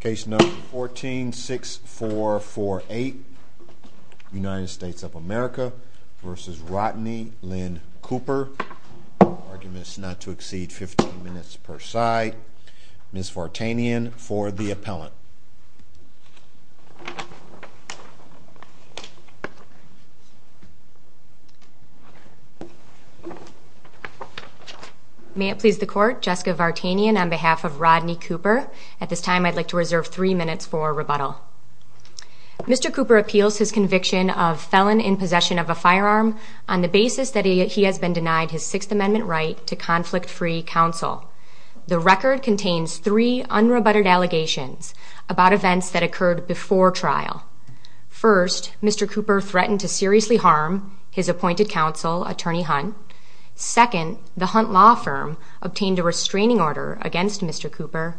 Case number fourteen six four four eight United States of America versus Rodney Lynn Cooper. Arguments not to exceed 15 minutes per side. Ms. Vartanian for the appellant. May it please the court, Jessica Vartanian on behalf of Rodney Cooper. At this time I'd like to reserve three minutes for rebuttal. Mr. Cooper appeals his conviction of felon in possession of a firearm on the basis that he has been denied his Sixth Amendment right to conflict-free counsel. The record contains three unrebutted allegations about events that occurred before trial. First, Mr. Cooper threatened to seriously harm his appointed counsel, Attorney Hunt. Second, the Hunt Law Firm obtained a restraining order against Mr. Cooper.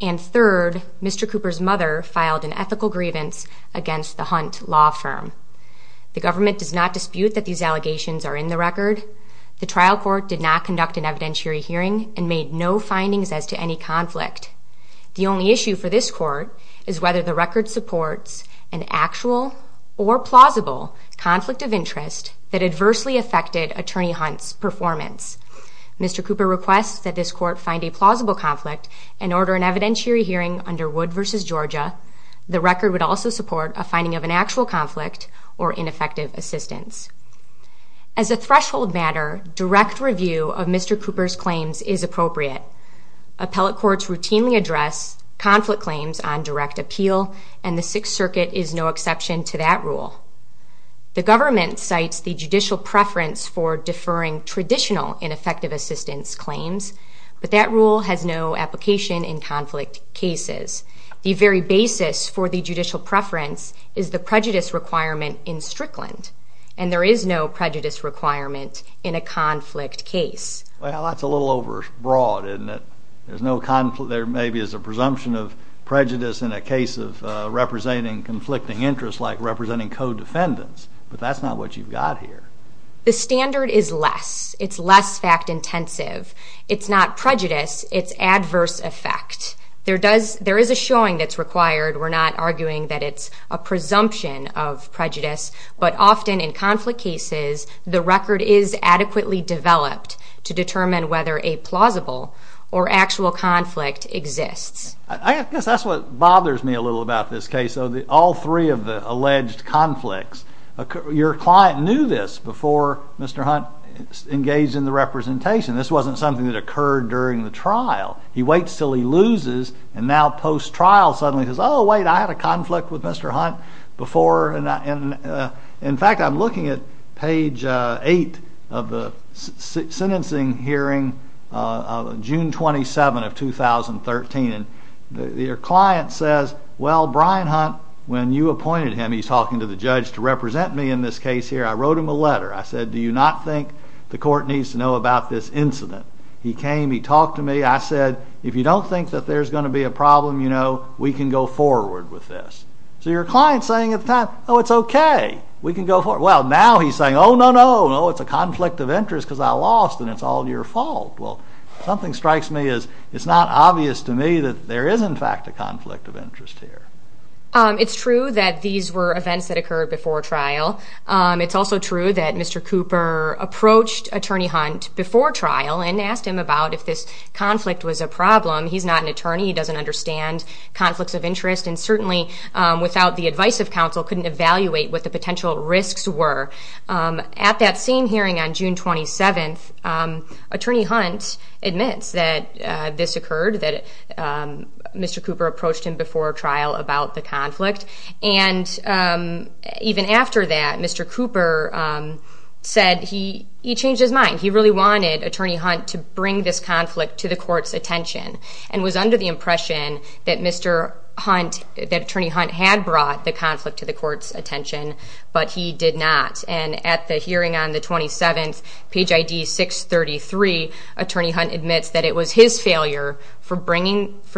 And third, Mr. Cooper's mother filed an ethical grievance against the Hunt Law Firm. The government does not dispute that these allegations are in the record. The trial court did not conduct an evidentiary hearing and made no findings as to any conflict. The only issue for this court is whether the record supports an actual or plausible conflict of interest that adversely affected Attorney Hunt's performance. Mr. Cooper requests that this court find a plausible conflict and order an evidentiary hearing under Wood v. Georgia. The record would also support a finding of an actual conflict or ineffective assistance. As a threshold matter, direct review of Mr. Cooper's claims is appropriate. Appellate courts routinely address conflict claims on direct appeal, and the Sixth Circuit is no exception to that rule. The government cites the judicial preference for deferring traditional ineffective assistance claims, but that rule has no application in conflict cases. The very basis for the judicial preference is the prejudice requirement in Strickland, and there is no prejudice requirement in a conflict case. Well, that's a little over broad, isn't it? There's no conflict. There maybe is a presumption of prejudice in a case of representing conflicting interests, like representing co-defendants, but that's not what you've got here. The standard is less. It's less fact-intensive. It's not prejudice. It's adverse effect. There is a showing that's required. We're not arguing that it's a presumption of prejudice, but often in conflict cases, the record is adequately developed to determine whether a plausible or actual conflict exists. I guess that's what bothers me a little about this case, though, all three of the alleged conflicts. Your client knew this before Mr. Hunt engaged in the representation. This wasn't something that occurred during the trial. He waits until he loses, and now post-trial suddenly says, oh, wait, I had a conflict with Mr. Hunt before, and in fact, I'm looking at page 8 of the sentencing hearing of June 27 of 2013, and your client says, well, Brian Hunt, when you appointed him, he's talking to the judge to represent me in this case here. I wrote him a letter. I said, do you not think the court needs to know about this incident? He came. He talked to me. I said, if you don't think that there's going to be a problem, you know, we can go forward with this. So your client's saying at the time, oh, it's OK. We can go forward. Well, now he's saying, oh, no, no, no, it's a conflict of interest because I lost, and it's all your fault. Well, something strikes me as it's not obvious to me that there is, in fact, a conflict of interest here. It's true that these were events that occurred before trial. It's also true that Mr. Cooper approached Attorney Hunt before trial and asked him about if this conflict was a problem. He's not an attorney. He doesn't understand conflicts of interest, and certainly without the advice of counsel couldn't evaluate what the potential risks were. At that same hearing on June 27th, Attorney Hunt admits that this occurred, that Mr. Cooper approached him before trial about the conflict. And even after that, Mr. Cooper said he changed his mind. He really wanted Attorney Hunt to bring this conflict to the court's attention and was under the conflict to the court's attention, but he did not. And at the hearing on the 27th, page ID 633, Attorney Hunt admits that it was his failure for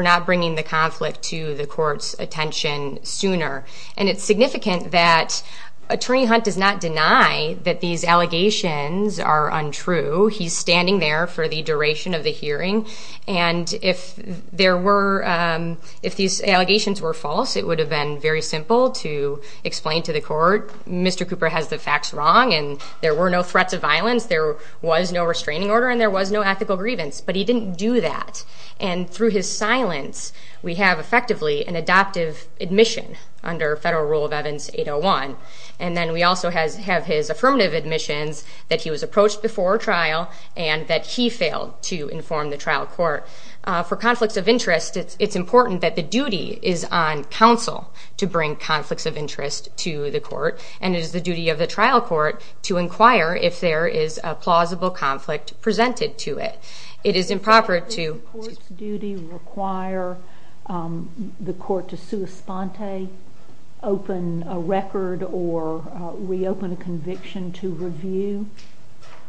not bringing the conflict to the court's attention sooner. And it's significant that Attorney Hunt does not deny that these allegations are untrue. He's standing there for the duration of the hearing, and if these allegations were false, it would have been very simple to explain to the court, Mr. Cooper has the facts wrong, and there were no threats of violence, there was no restraining order, and there was no ethical grievance. But he didn't do that. And through his silence, we have effectively an adoptive admission under Federal Rule of Evidence 801. And then we also have his affirmative admissions that he was approached before trial and that he is on counsel to bring conflicts of interest to the court, and it is the duty of the trial court to inquire if there is a plausible conflict presented to it. It is improper to... Does the court's duty require the court to sua sponte, open a record, or reopen a conviction to review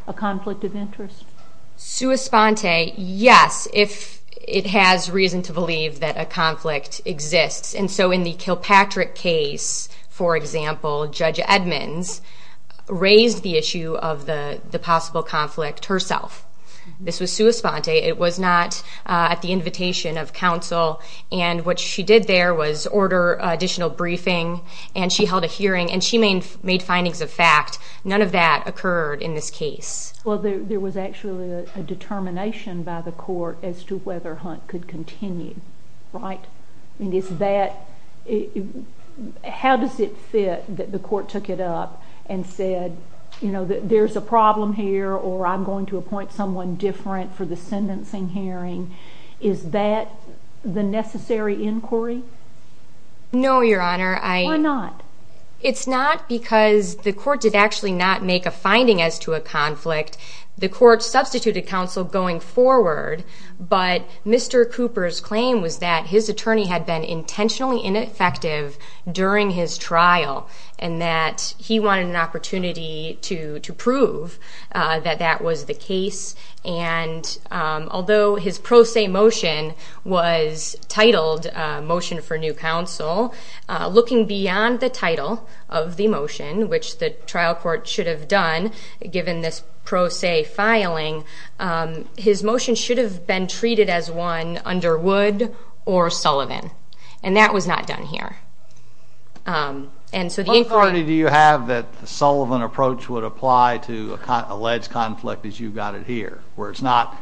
a conflict of interest? Sua sponte, yes, if it has reason to believe that a conflict exists. And so in the Kilpatrick case, for example, Judge Edmonds raised the issue of the possible conflict herself. This was sua sponte. It was not at the invitation of counsel. And what she did there was order additional briefing, and she held a hearing, and she made findings of fact. None of that occurred in this case. Well, there was actually a determination by the court as to whether Hunt could continue, right? I mean, is that... How does it fit that the court took it up and said, you know, there's a problem here, or I'm going to appoint someone different for the sentencing hearing? Is that the necessary inquiry? No, Your Honor, I... Why not? It's not because the court did actually not make a finding as to a conflict. The court substituted counsel going forward, but Mr. Cooper's claim was that his attorney had been intentionally ineffective during his trial, and that he wanted an opportunity to prove that that was the case. And although his pro se motion was titled Motion for New Counsel, looking beyond the title of the motion, which the trial court should have done, given this pro se filing, his motion should have been treated as one under Wood or Sullivan. And that was not done here. And so the inquiry... What authority do you have that the Sullivan approach would apply to alleged conflict as you've got it here, where it's not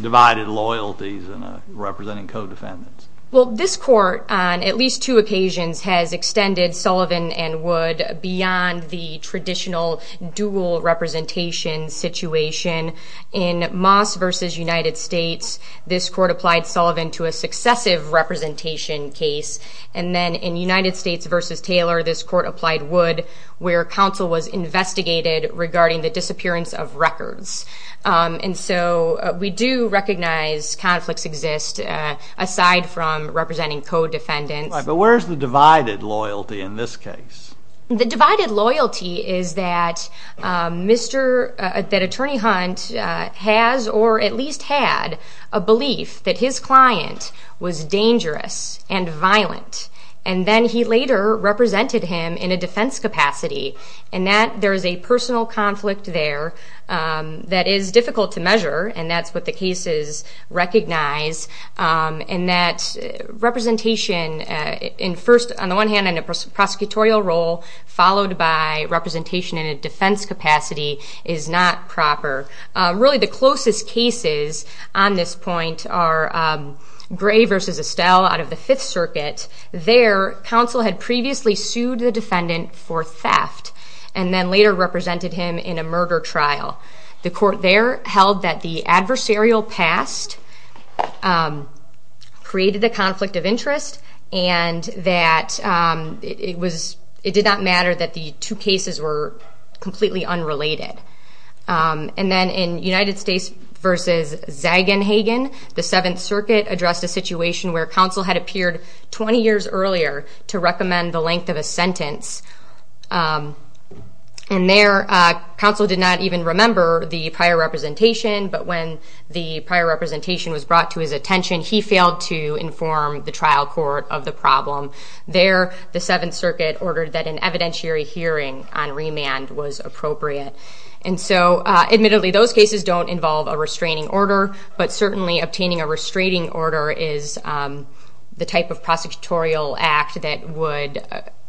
divided loyalties and representing co-defendants? Well, this court, on at least two occasions, has extended Sullivan and Wood beyond the traditional dual representation situation. In Moss v. United States, this court applied Sullivan to a successive representation case. And then in United States v. Taylor, this court applied Wood, where counsel was investigated regarding the disappearance of records. And so we do recognize conflicts exist, aside from representing co-defendants. Right. But where's the divided loyalty in this case? The divided loyalty is that Mr.... that Attorney Hunt has, or at least had, a belief that his client was dangerous and violent. And then he later represented him in a defense capacity, and that there is a personal conflict there that is difficult to measure, and that's what the cases recognize. And that representation in first, on the one hand, in a prosecutorial role, followed by representation in a defense capacity is not proper. Really, the closest cases on this point are Gray v. Estelle out of the Fifth Circuit. There, counsel had previously sued the defendant for theft, and then later represented him in a murder trial. The court there held that the adversarial past created a conflict of interest, and that it did not matter that the two cases were completely unrelated. And then in United States v. Zagenhagen, the Seventh Circuit addressed a situation where counsel had appeared 20 years earlier to recommend the length of a sentence. And there, counsel did not even remember the prior representation, but when the prior representation was brought to his attention, he failed to inform the trial court of the problem. There, the Seventh Circuit ordered that an evidentiary hearing on remand was appropriate. And so, admittedly, those cases don't involve a restraining order, but certainly obtaining a restraining order is the type of prosecutorial act that would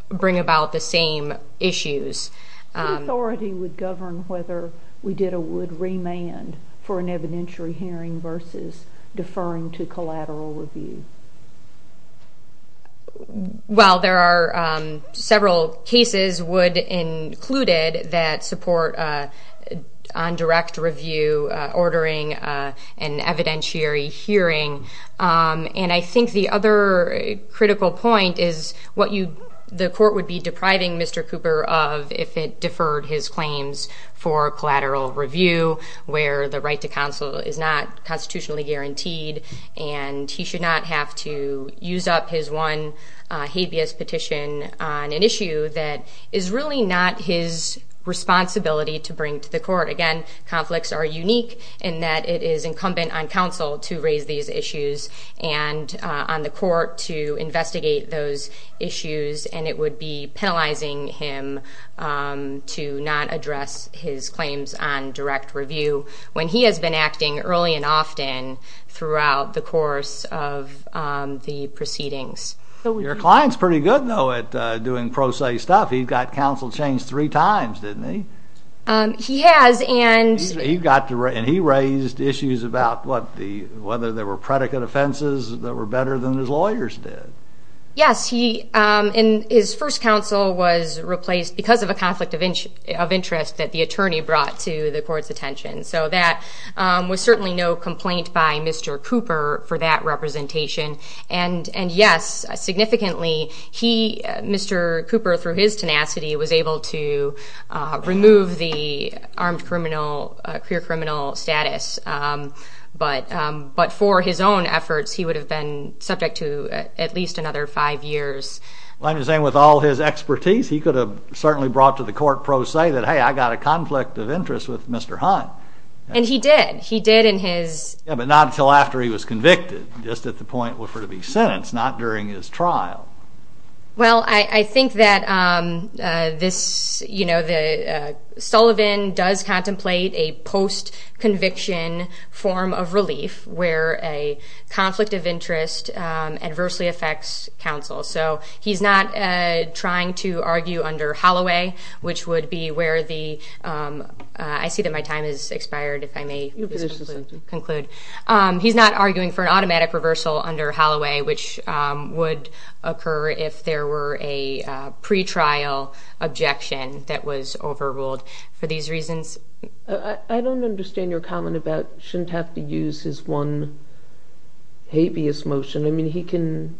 bring about the same issues. So the authority would govern whether we did a wood remand for an evidentiary hearing versus deferring to collateral review? Well, there are several cases, wood included, that support on direct review ordering an evidentiary hearing. And I think the other critical point is what the court would be depriving Mr. Cooper of if it deferred his claims for collateral review, where the right to counsel is not constitutionally guaranteed, and he should not have to use up his one habeas petition on an issue that is really not his responsibility to bring to the court. Again, conflicts are unique in that it is incumbent on counsel to raise these issues and on the court to investigate those issues, and it would be penalizing him to not address his claims on direct review when he has been acting early and often throughout the course of the proceedings. Your client's pretty good, though, at doing pro se stuff. He got counsel changed three times, didn't he? He has, and... And he raised issues about whether there were predicate offenses that were better than his lawyers did. Yes, and his first counsel was replaced because of a conflict of interest that the attorney brought to the court's attention. So that was certainly no complaint by Mr. Cooper for that representation. And yes, significantly, Mr. Cooper, through his tenacity, was able to remove the armed criminal, queer criminal status. But for his own efforts, he would have been subject to at least another five years. Well, I'm just saying, with all his expertise, he could have certainly brought to the court pro se that, hey, I got a conflict of interest with Mr. Hunt. And he did. He did in his... Yeah, but not until after he was convicted, just at the point for him to be sentenced, not during his trial. Well, I think that Sullivan does contemplate a post-conviction form of relief, where a conflict of interest adversely affects counsel. So he's not trying to argue under Holloway, which would be where the... I see that my time has expired, if I may conclude. He's not arguing for an automatic reversal under Holloway, which would occur if there were a pretrial objection that was overruled for these reasons. I don't understand your comment about shouldn't have to use his one habeas motion. I mean, he can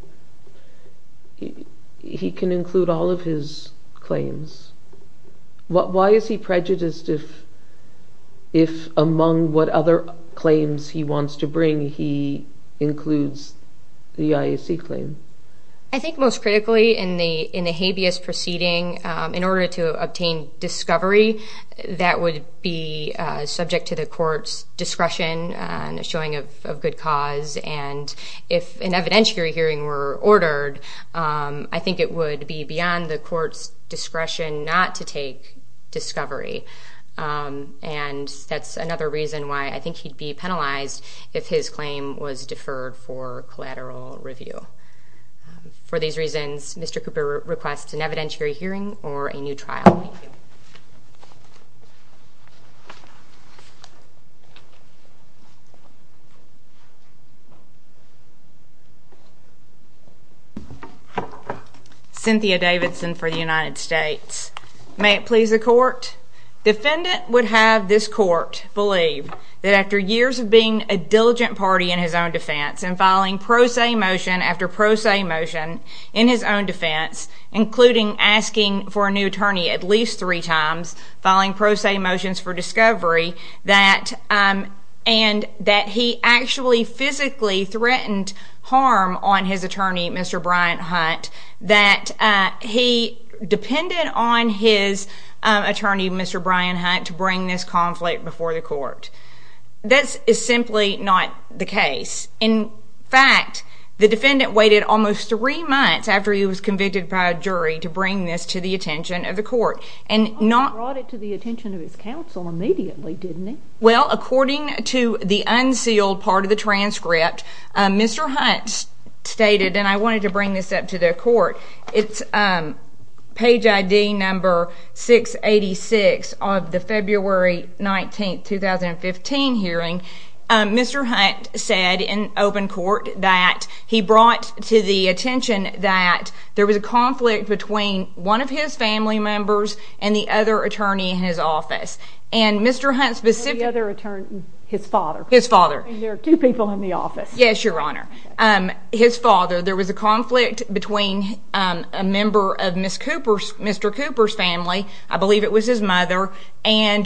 include all of his claims. Why is he prejudiced if, among what other claims he wants to bring, he includes the IAC claim? I think most critically, in the habeas proceeding, in order to obtain discovery, that would be subject to the court's discretion and showing of good cause. And if an evidentiary hearing were ordered, I think it would be beyond the court's discretion not to take discovery. And that's another reason why I think he'd be penalized if his claim was deferred for collateral review. For these reasons, Mr. Cooper requests an evidentiary hearing or a new trial. Thank you. Cynthia Davidson for the United States. May it please the court? Defendant would have this court believe that after years of being a diligent party in his own defense and filing pro se motion after pro se motion in his own defense, including asking for a new attorney at least three times, filing pro se motions for discovery, and that he actually physically threatened harm on his attorney, Mr. Brian Hunt, that he depended on his attorney, Mr. Brian Hunt, to bring this conflict before the court. This is simply not the case. In fact, the defendant waited almost three months after he was convicted by a jury to bring this to the attention of the court. And brought it to the attention of his counsel immediately, didn't he? Well, according to the unsealed part of the transcript, Mr. Hunt stated, and I wanted to bring this up to the court, it's page ID number 686 of the February 19, 2015 hearing, Mr. Hunt said in open court that he brought to the attention that there was a conflict between one of his family members and the other attorney in his office. And Mr. Hunt specifically... The other attorney, his father. His father. And there are two people in the office. Yes, Your Honor. His father. There was a conflict between a member of Mr. Cooper's family, I believe it was his mother, and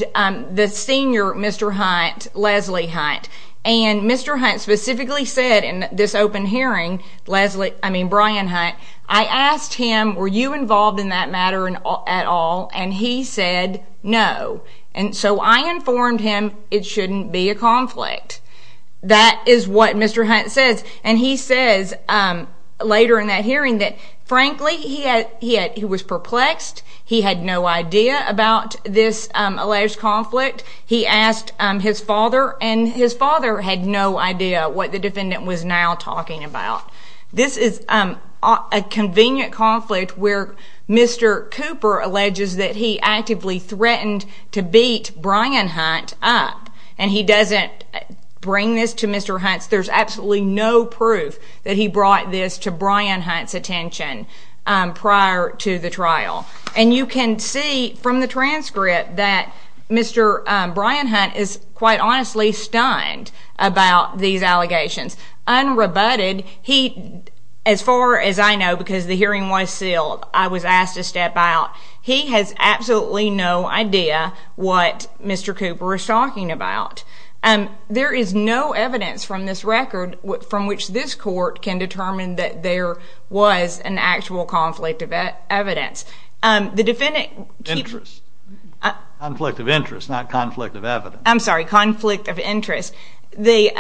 the senior Mr. Hunt, Leslie Hunt. And Mr. Hunt specifically said in this open hearing, Brian Hunt, I asked him, were you involved in that matter at all? And he said no. And so I informed him it shouldn't be a conflict. That is what Mr. Hunt says. And he says later in that hearing that, frankly, he was perplexed. He had no idea about this alleged conflict. He asked his father, and his father had no idea what the defendant was now talking about. This is a convenient conflict where Mr. Cooper alleges that he actively threatened to beat Brian Hunt up. And he doesn't bring this to Mr. Hunt's... No proof that he brought this to Brian Hunt's attention prior to the trial. And you can see from the transcript that Mr. Brian Hunt is quite honestly stunned about these allegations. Unrebutted, he... As far as I know, because the hearing was sealed, I was asked to step out. He has absolutely no idea what Mr. Cooper is talking about. There is no evidence from this record from which this court can determine that there was an actual conflict of evidence. The defendant... Interest. Conflict of interest, not conflict of evidence. I'm sorry. Conflict of interest. The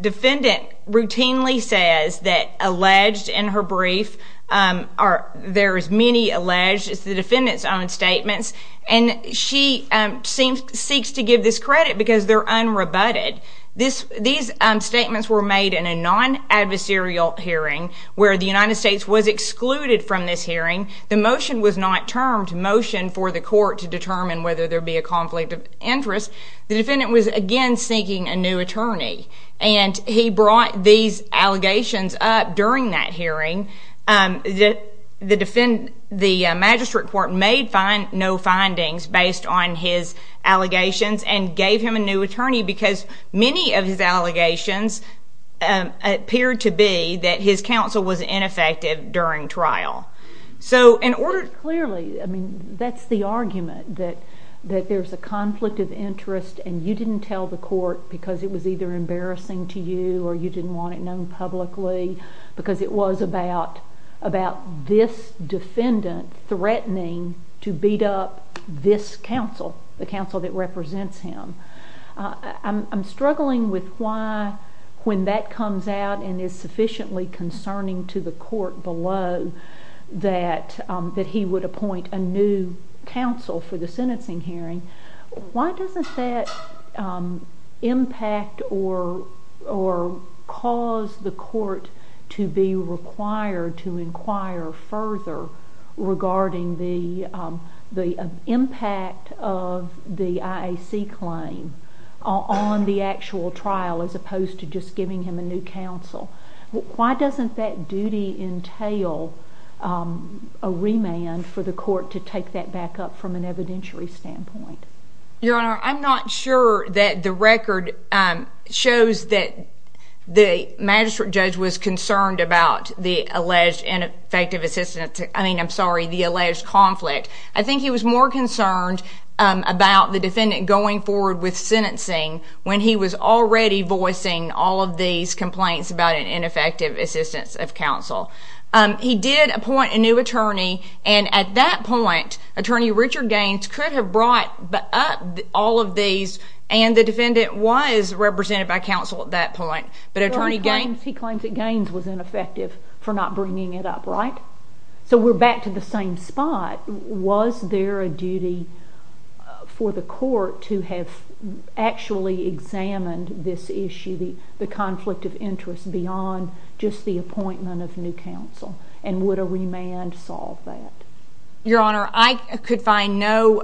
defendant routinely says that alleged in her brief are... There is many alleged. It's the defendant's own statements. And she seeks to give this credit because they're unrebutted. These statements were made in a non-adversarial hearing where the United States was excluded from this hearing. The motion was not termed motion for the court to determine whether there be a conflict of interest. The defendant was again seeking a new attorney. And he brought these allegations up during that hearing. The magistrate court made no findings based on his allegations and gave him a new attorney because many of his allegations appeared to be that his counsel was ineffective during trial. So in order... Clearly, I mean, that's the argument that there's a conflict of interest and you didn't tell the court because it was either embarrassing to you or you didn't want it known publicly because it was about this defendant threatening to beat up this counsel, the counsel that represents him. I'm struggling with why when that comes out and is sufficiently concerning to the court below that he would appoint a new counsel for the sentencing hearing. Why doesn't that impact or cause the court to be required to inquire further regarding the impact of the IAC claim on the actual trial as opposed to just giving him a new counsel? Why doesn't that duty entail a remand for the court to take that back up from an evidentiary standpoint? Your Honor, I'm not sure that the record shows that the magistrate judge was concerned about the alleged ineffective assistance... I mean, I'm sorry, the alleged conflict. I think he was more concerned about the defendant going forward with sentencing when he was already voicing all of these complaints about an ineffective assistance of counsel. He did appoint a new attorney and at that point, Attorney Richard Gaines could have brought up all of these and the defendant was represented by counsel at that point. He claims that Gaines was ineffective for not bringing it up, right? So we're back to the same spot. Was there a duty for the court to have actually examined this issue, the alleged conflict, and would a remand solve that? Your Honor, I could find no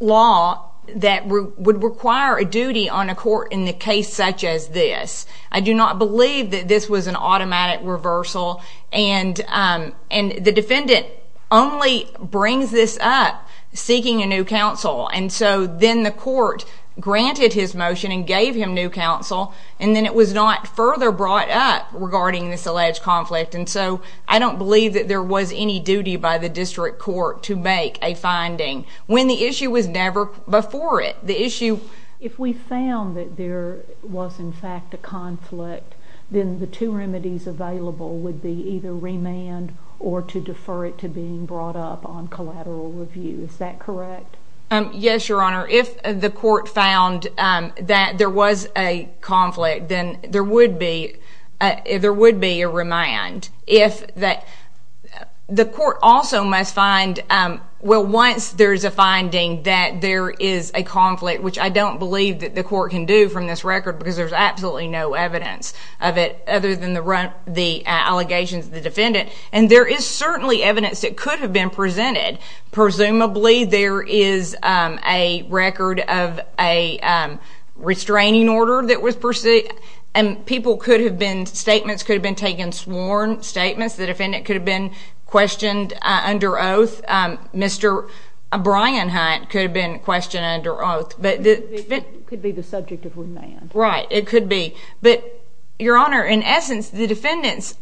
law that would require a duty on a court in a case such as this. I do not believe that this was an automatic reversal and the defendant only brings this up seeking a new counsel and so then the court granted his motion and gave him new counsel and then it was not further brought up regarding this alleged conflict and so I don't believe that there was any duty by the district court to make a finding when the issue was never before it. The issue... If we found that there was in fact a conflict, then the two remedies available would be either remand or to defer it to being brought up on collateral review. Is that correct? Yes, Your Honor. If the court found that there was a conflict, then there would be a remand. The court also must find, well, once there's a finding that there is a conflict, which I don't believe that the court can do from this record because there's absolutely no evidence of it other than the allegations of the defendant, and there is certainly evidence that could have been presented. Presumably there is a record of a restraining order that was pursued and people could have been...statements could have been taken, sworn statements. The defendant could have been questioned under oath. Mr. Brian Hunt could have been questioned under oath. It could be the subject of remand. Right, it could be, but Your Honor, in essence, the defendant's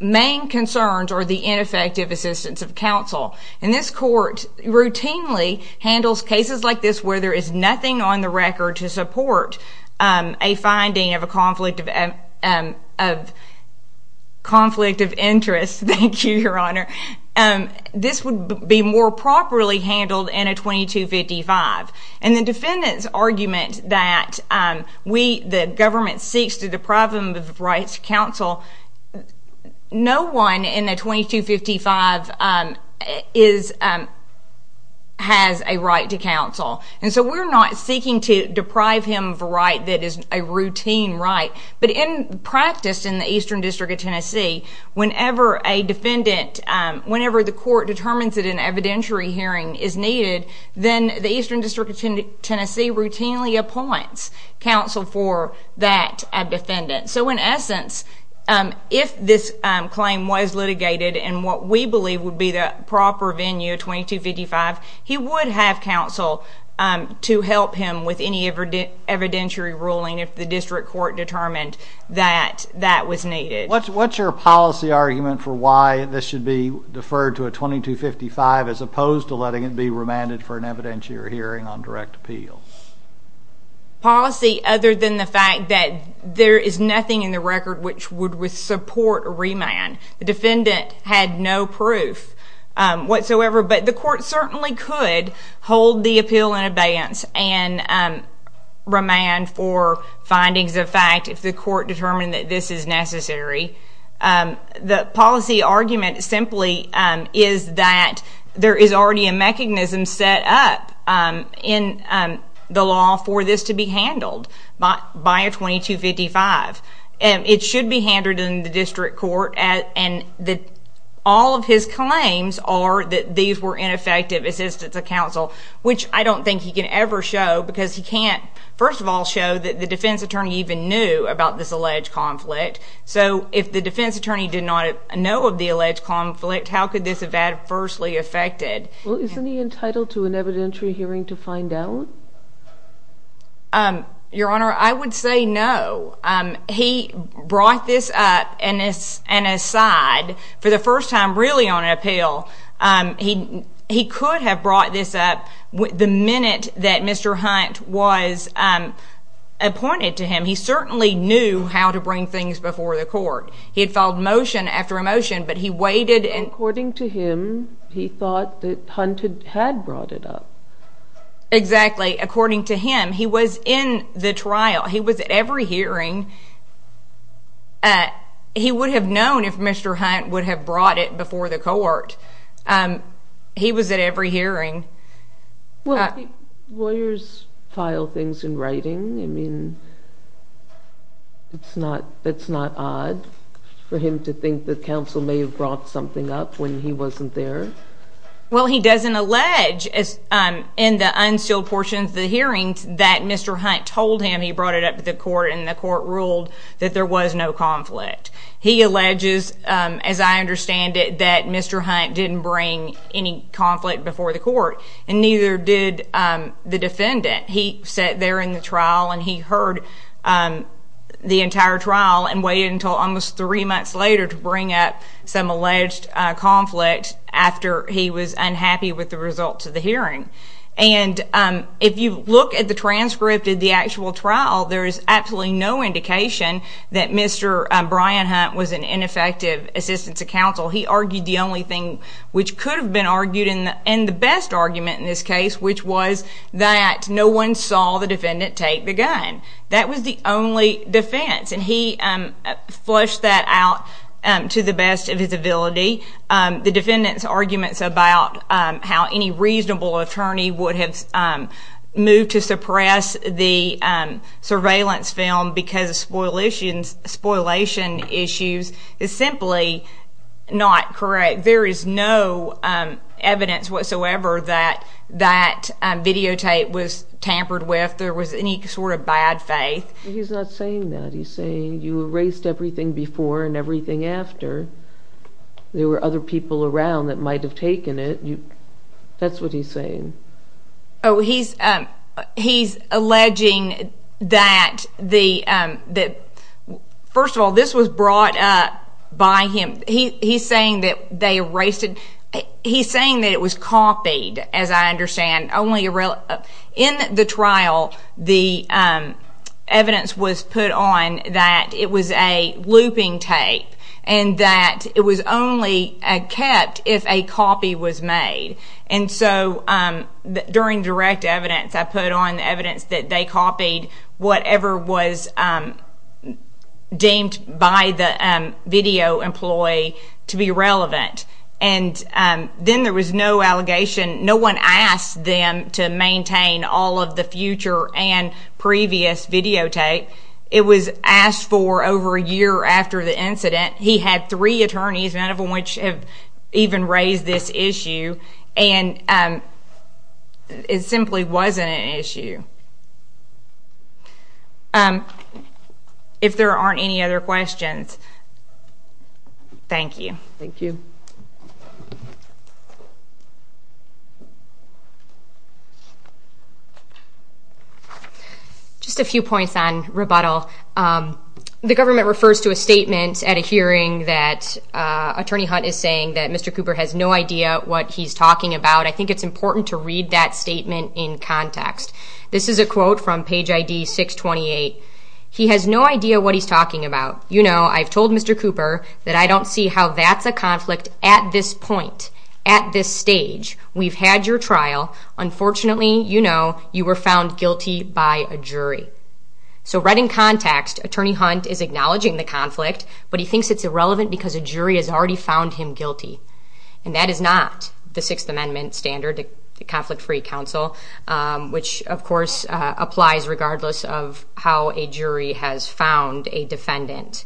main concerns are the ineffective assistance of counsel. This court routinely handles cases like this where there is nothing on the record to support a finding of a conflict of interest. Thank you, Your Honor. This would be more properly handled in a 2255. The defendant's right to counsel, no one in the 2255 has a right to counsel, and so we're not seeking to deprive him of a right that is a routine right, but in practice in the Eastern District of Tennessee, whenever a defendant, whenever the court determines that an evidentiary hearing is needed, then the Eastern District of Tennessee routinely appoints counsel for that defendant. So in essence, if this claim was litigated in what we believe would be the proper venue, 2255, he would have counsel to help him with any evidentiary ruling if the district court determined that that was needed. What's your policy argument for why this should be deferred to a 2255 as opposed to letting it be remanded for an evidentiary hearing on direct appeal? Policy other than the fact that there is nothing in the record which would support a remand. The defendant had no proof whatsoever, but the court certainly could hold the appeal in advance and remand for findings of fact if the court determined that this is necessary. The policy argument simply is that there is already a mechanism set up in the law for this to be handled by a 2255. It should be handled in the district court, and all of his claims are that these were ineffective assistance of counsel, which I don't think he can ever show because he can't, first of all, show that the defense attorney even knew about this alleged conflict. So if the defense attorney did not know of the alleged conflict, how could this have adversely affected? Well, isn't he entitled to an evidentiary hearing to find out? Your Honor, I would say no. He brought this up and aside for the first time really on appeal. He could have brought this up the minute that Mr. Hunt was appointed to him. He certainly knew how to bring things before the court. He had filed motion after motion, but he waited. According to him, he thought that Hunt had brought it up. Exactly. According to him, he was in the trial. He was at every hearing. He would have known if Mr. Hunt would have brought it before the court. He was at every hearing. Well, lawyers file things in writing. I mean, it's not odd for him to think that counsel may have brought something up when he wasn't there. Well, he doesn't allege in the unsealed portions of the hearings that Mr. Hunt told him he brought it up to the court and the court ruled that there was no conflict. He alleges, as I understand it, that Mr. Hunt didn't bring any conflict before the court and neither did the defendant. He sat there in the trial and he heard the entire trial and waited until almost three months later to bring up some alleged conflict after he was unhappy with the results of the hearing. If you look at the transcript of the actual trial, there is absolutely no indication that Mr. Hunt was an ineffective assistant to counsel. He argued the only thing which could have been argued in the best argument in this case, which was that no one saw the defendant take the gun. That was the only defense and he flushed that out to the best of his ability. The defendant's arguments about how any reasonable attorney would have moved to suppress the spoliation issues is simply not correct. There is no evidence whatsoever that that videotape was tampered with. There was any sort of bad faith. He's not saying that. He's saying you erased everything before and everything after. There were other people around that might have taken it. That's what he's saying. He's alleging that, first of all, this was brought up by him. He's saying that they erased it. He's saying that it was copied, as I understand. In the trial, the evidence was put on that it was a looping tape and that it was only kept if a copy was made. During direct evidence, I put on the evidence that they copied whatever was deemed by the video employee to be relevant. Then there was no allegation. No one asked them to maintain all of the future and previous videotape. It was asked for over a year after the incident. He had three attorneys, none of whom even raised this issue. It simply wasn't an issue. If there aren't any other questions, thank you. Thank you. Just a few points on rebuttal. The government refers to a statement at a hearing that Attorney Hunt is saying that Mr. Cooper has no idea what he's talking about. I think it's important to read that statement in context. This is a quote from page ID 628. He has no idea what he's talking about. You know, I've told Mr. Cooper that I don't see how that's a conflict at this point, at this stage. We've had your trial. Unfortunately, you know, you were found guilty by a jury. So read in context, Attorney Hunt is acknowledging the conflict, but he thinks it's irrelevant because a jury has already found him guilty. That is not the Sixth Amendment standard, the conflict-free counsel, which of course applies regardless of how a jury has found a defendant.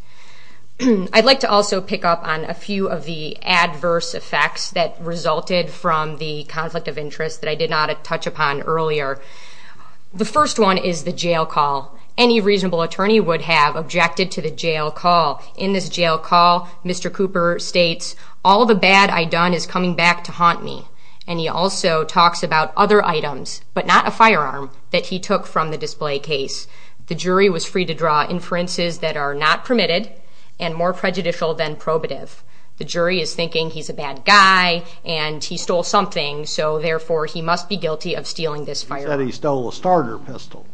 I'd like to also pick up on a few of the adverse effects that resulted from the conflict of interest that I did not touch upon earlier. The first one is the jail call. Any reasonable attorney would have objected to the jail call. In this jail call, Mr. Cooper states, all the bad I've done is coming back to haunt me. And he also talks about other items, but not a firearm, that he took from the display case. The jury was free to draw inferences that are not permitted and more prejudicial than probative. The jury is thinking he's a bad guy and he stole something, so therefore he must be guilty of stealing this firearm. He said he stole a starter pistol.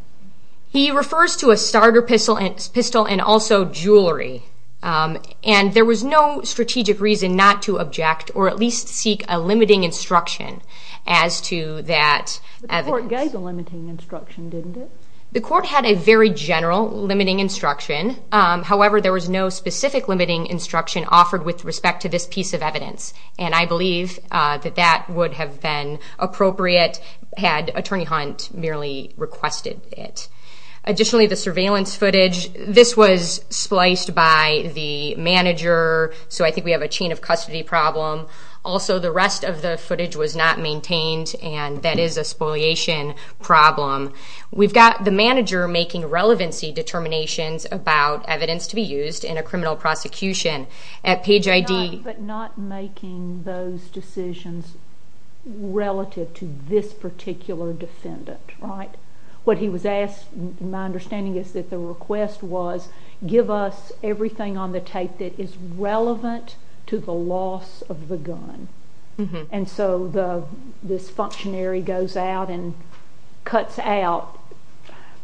He refers to a starter pistol and also jewelry. And there was no strategic reason not to object or at least seek a limiting instruction as to that. But the court gave the limiting instruction, didn't it? The court had a very general limiting instruction. However, there was no specific limiting instruction offered with respect to this piece of evidence. And I believe that that would have been appropriate had Attorney Hunt merely requested it. Additionally, the surveillance footage, this was spliced by the manager, so I think we have a chain of custody problem. Also, the rest of the footage was not maintained and that is a spoliation problem. We've got the manager making relevancy determinations about evidence to be used in a criminal prosecution at Page ID. But not making those decisions relative to this particular defendant, right? What he was asked, my understanding is that the request was, give us everything on the tape that is where he goes out and cuts out,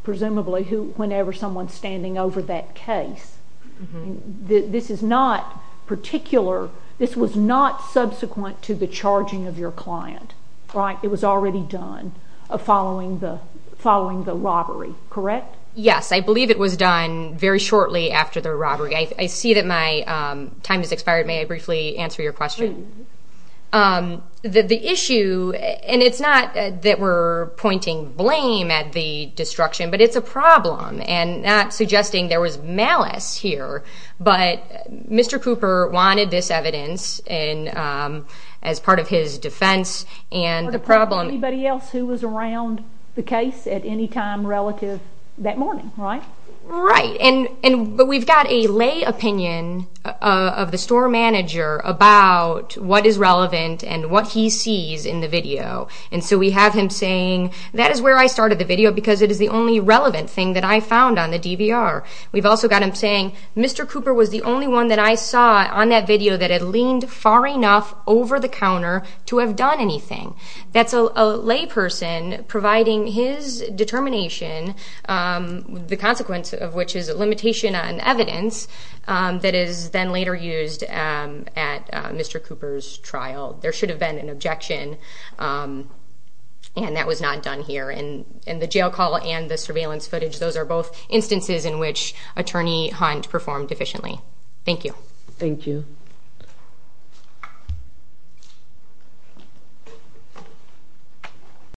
presumably, whenever someone's standing over that case. This is not particular, this was not subsequent to the charging of your client, right? It was already done following the robbery, correct? Yes, I believe it was done very shortly after the robbery. I see that my time has expired. May I briefly answer your question? The issue, and it's not that we're pointing blame at the destruction, but it's a problem. And not suggesting there was malice here, but Mr. Cooper wanted this evidence as part of his defense and the problem. Anybody else who was around the case at any time relative that morning, right? Right, but we've got a lay opinion of the store manager about what is relevant and what he sees in the video. And so we have him saying, that is where I started the video because it is the only relevant thing that I found on the DVR. We've also got him saying, Mr. Cooper was the only one that I saw on that video that had leaned far enough over the counter to have done anything. That's a lay person providing his determination, the consequences of which is a limitation on evidence that is then later used at Mr. Cooper's trial. There should have been an objection and that was not done here. And the jail call and the surveillance footage, those are both instances in which Attorney Hunt performed efficiently. Thank you. Thank you.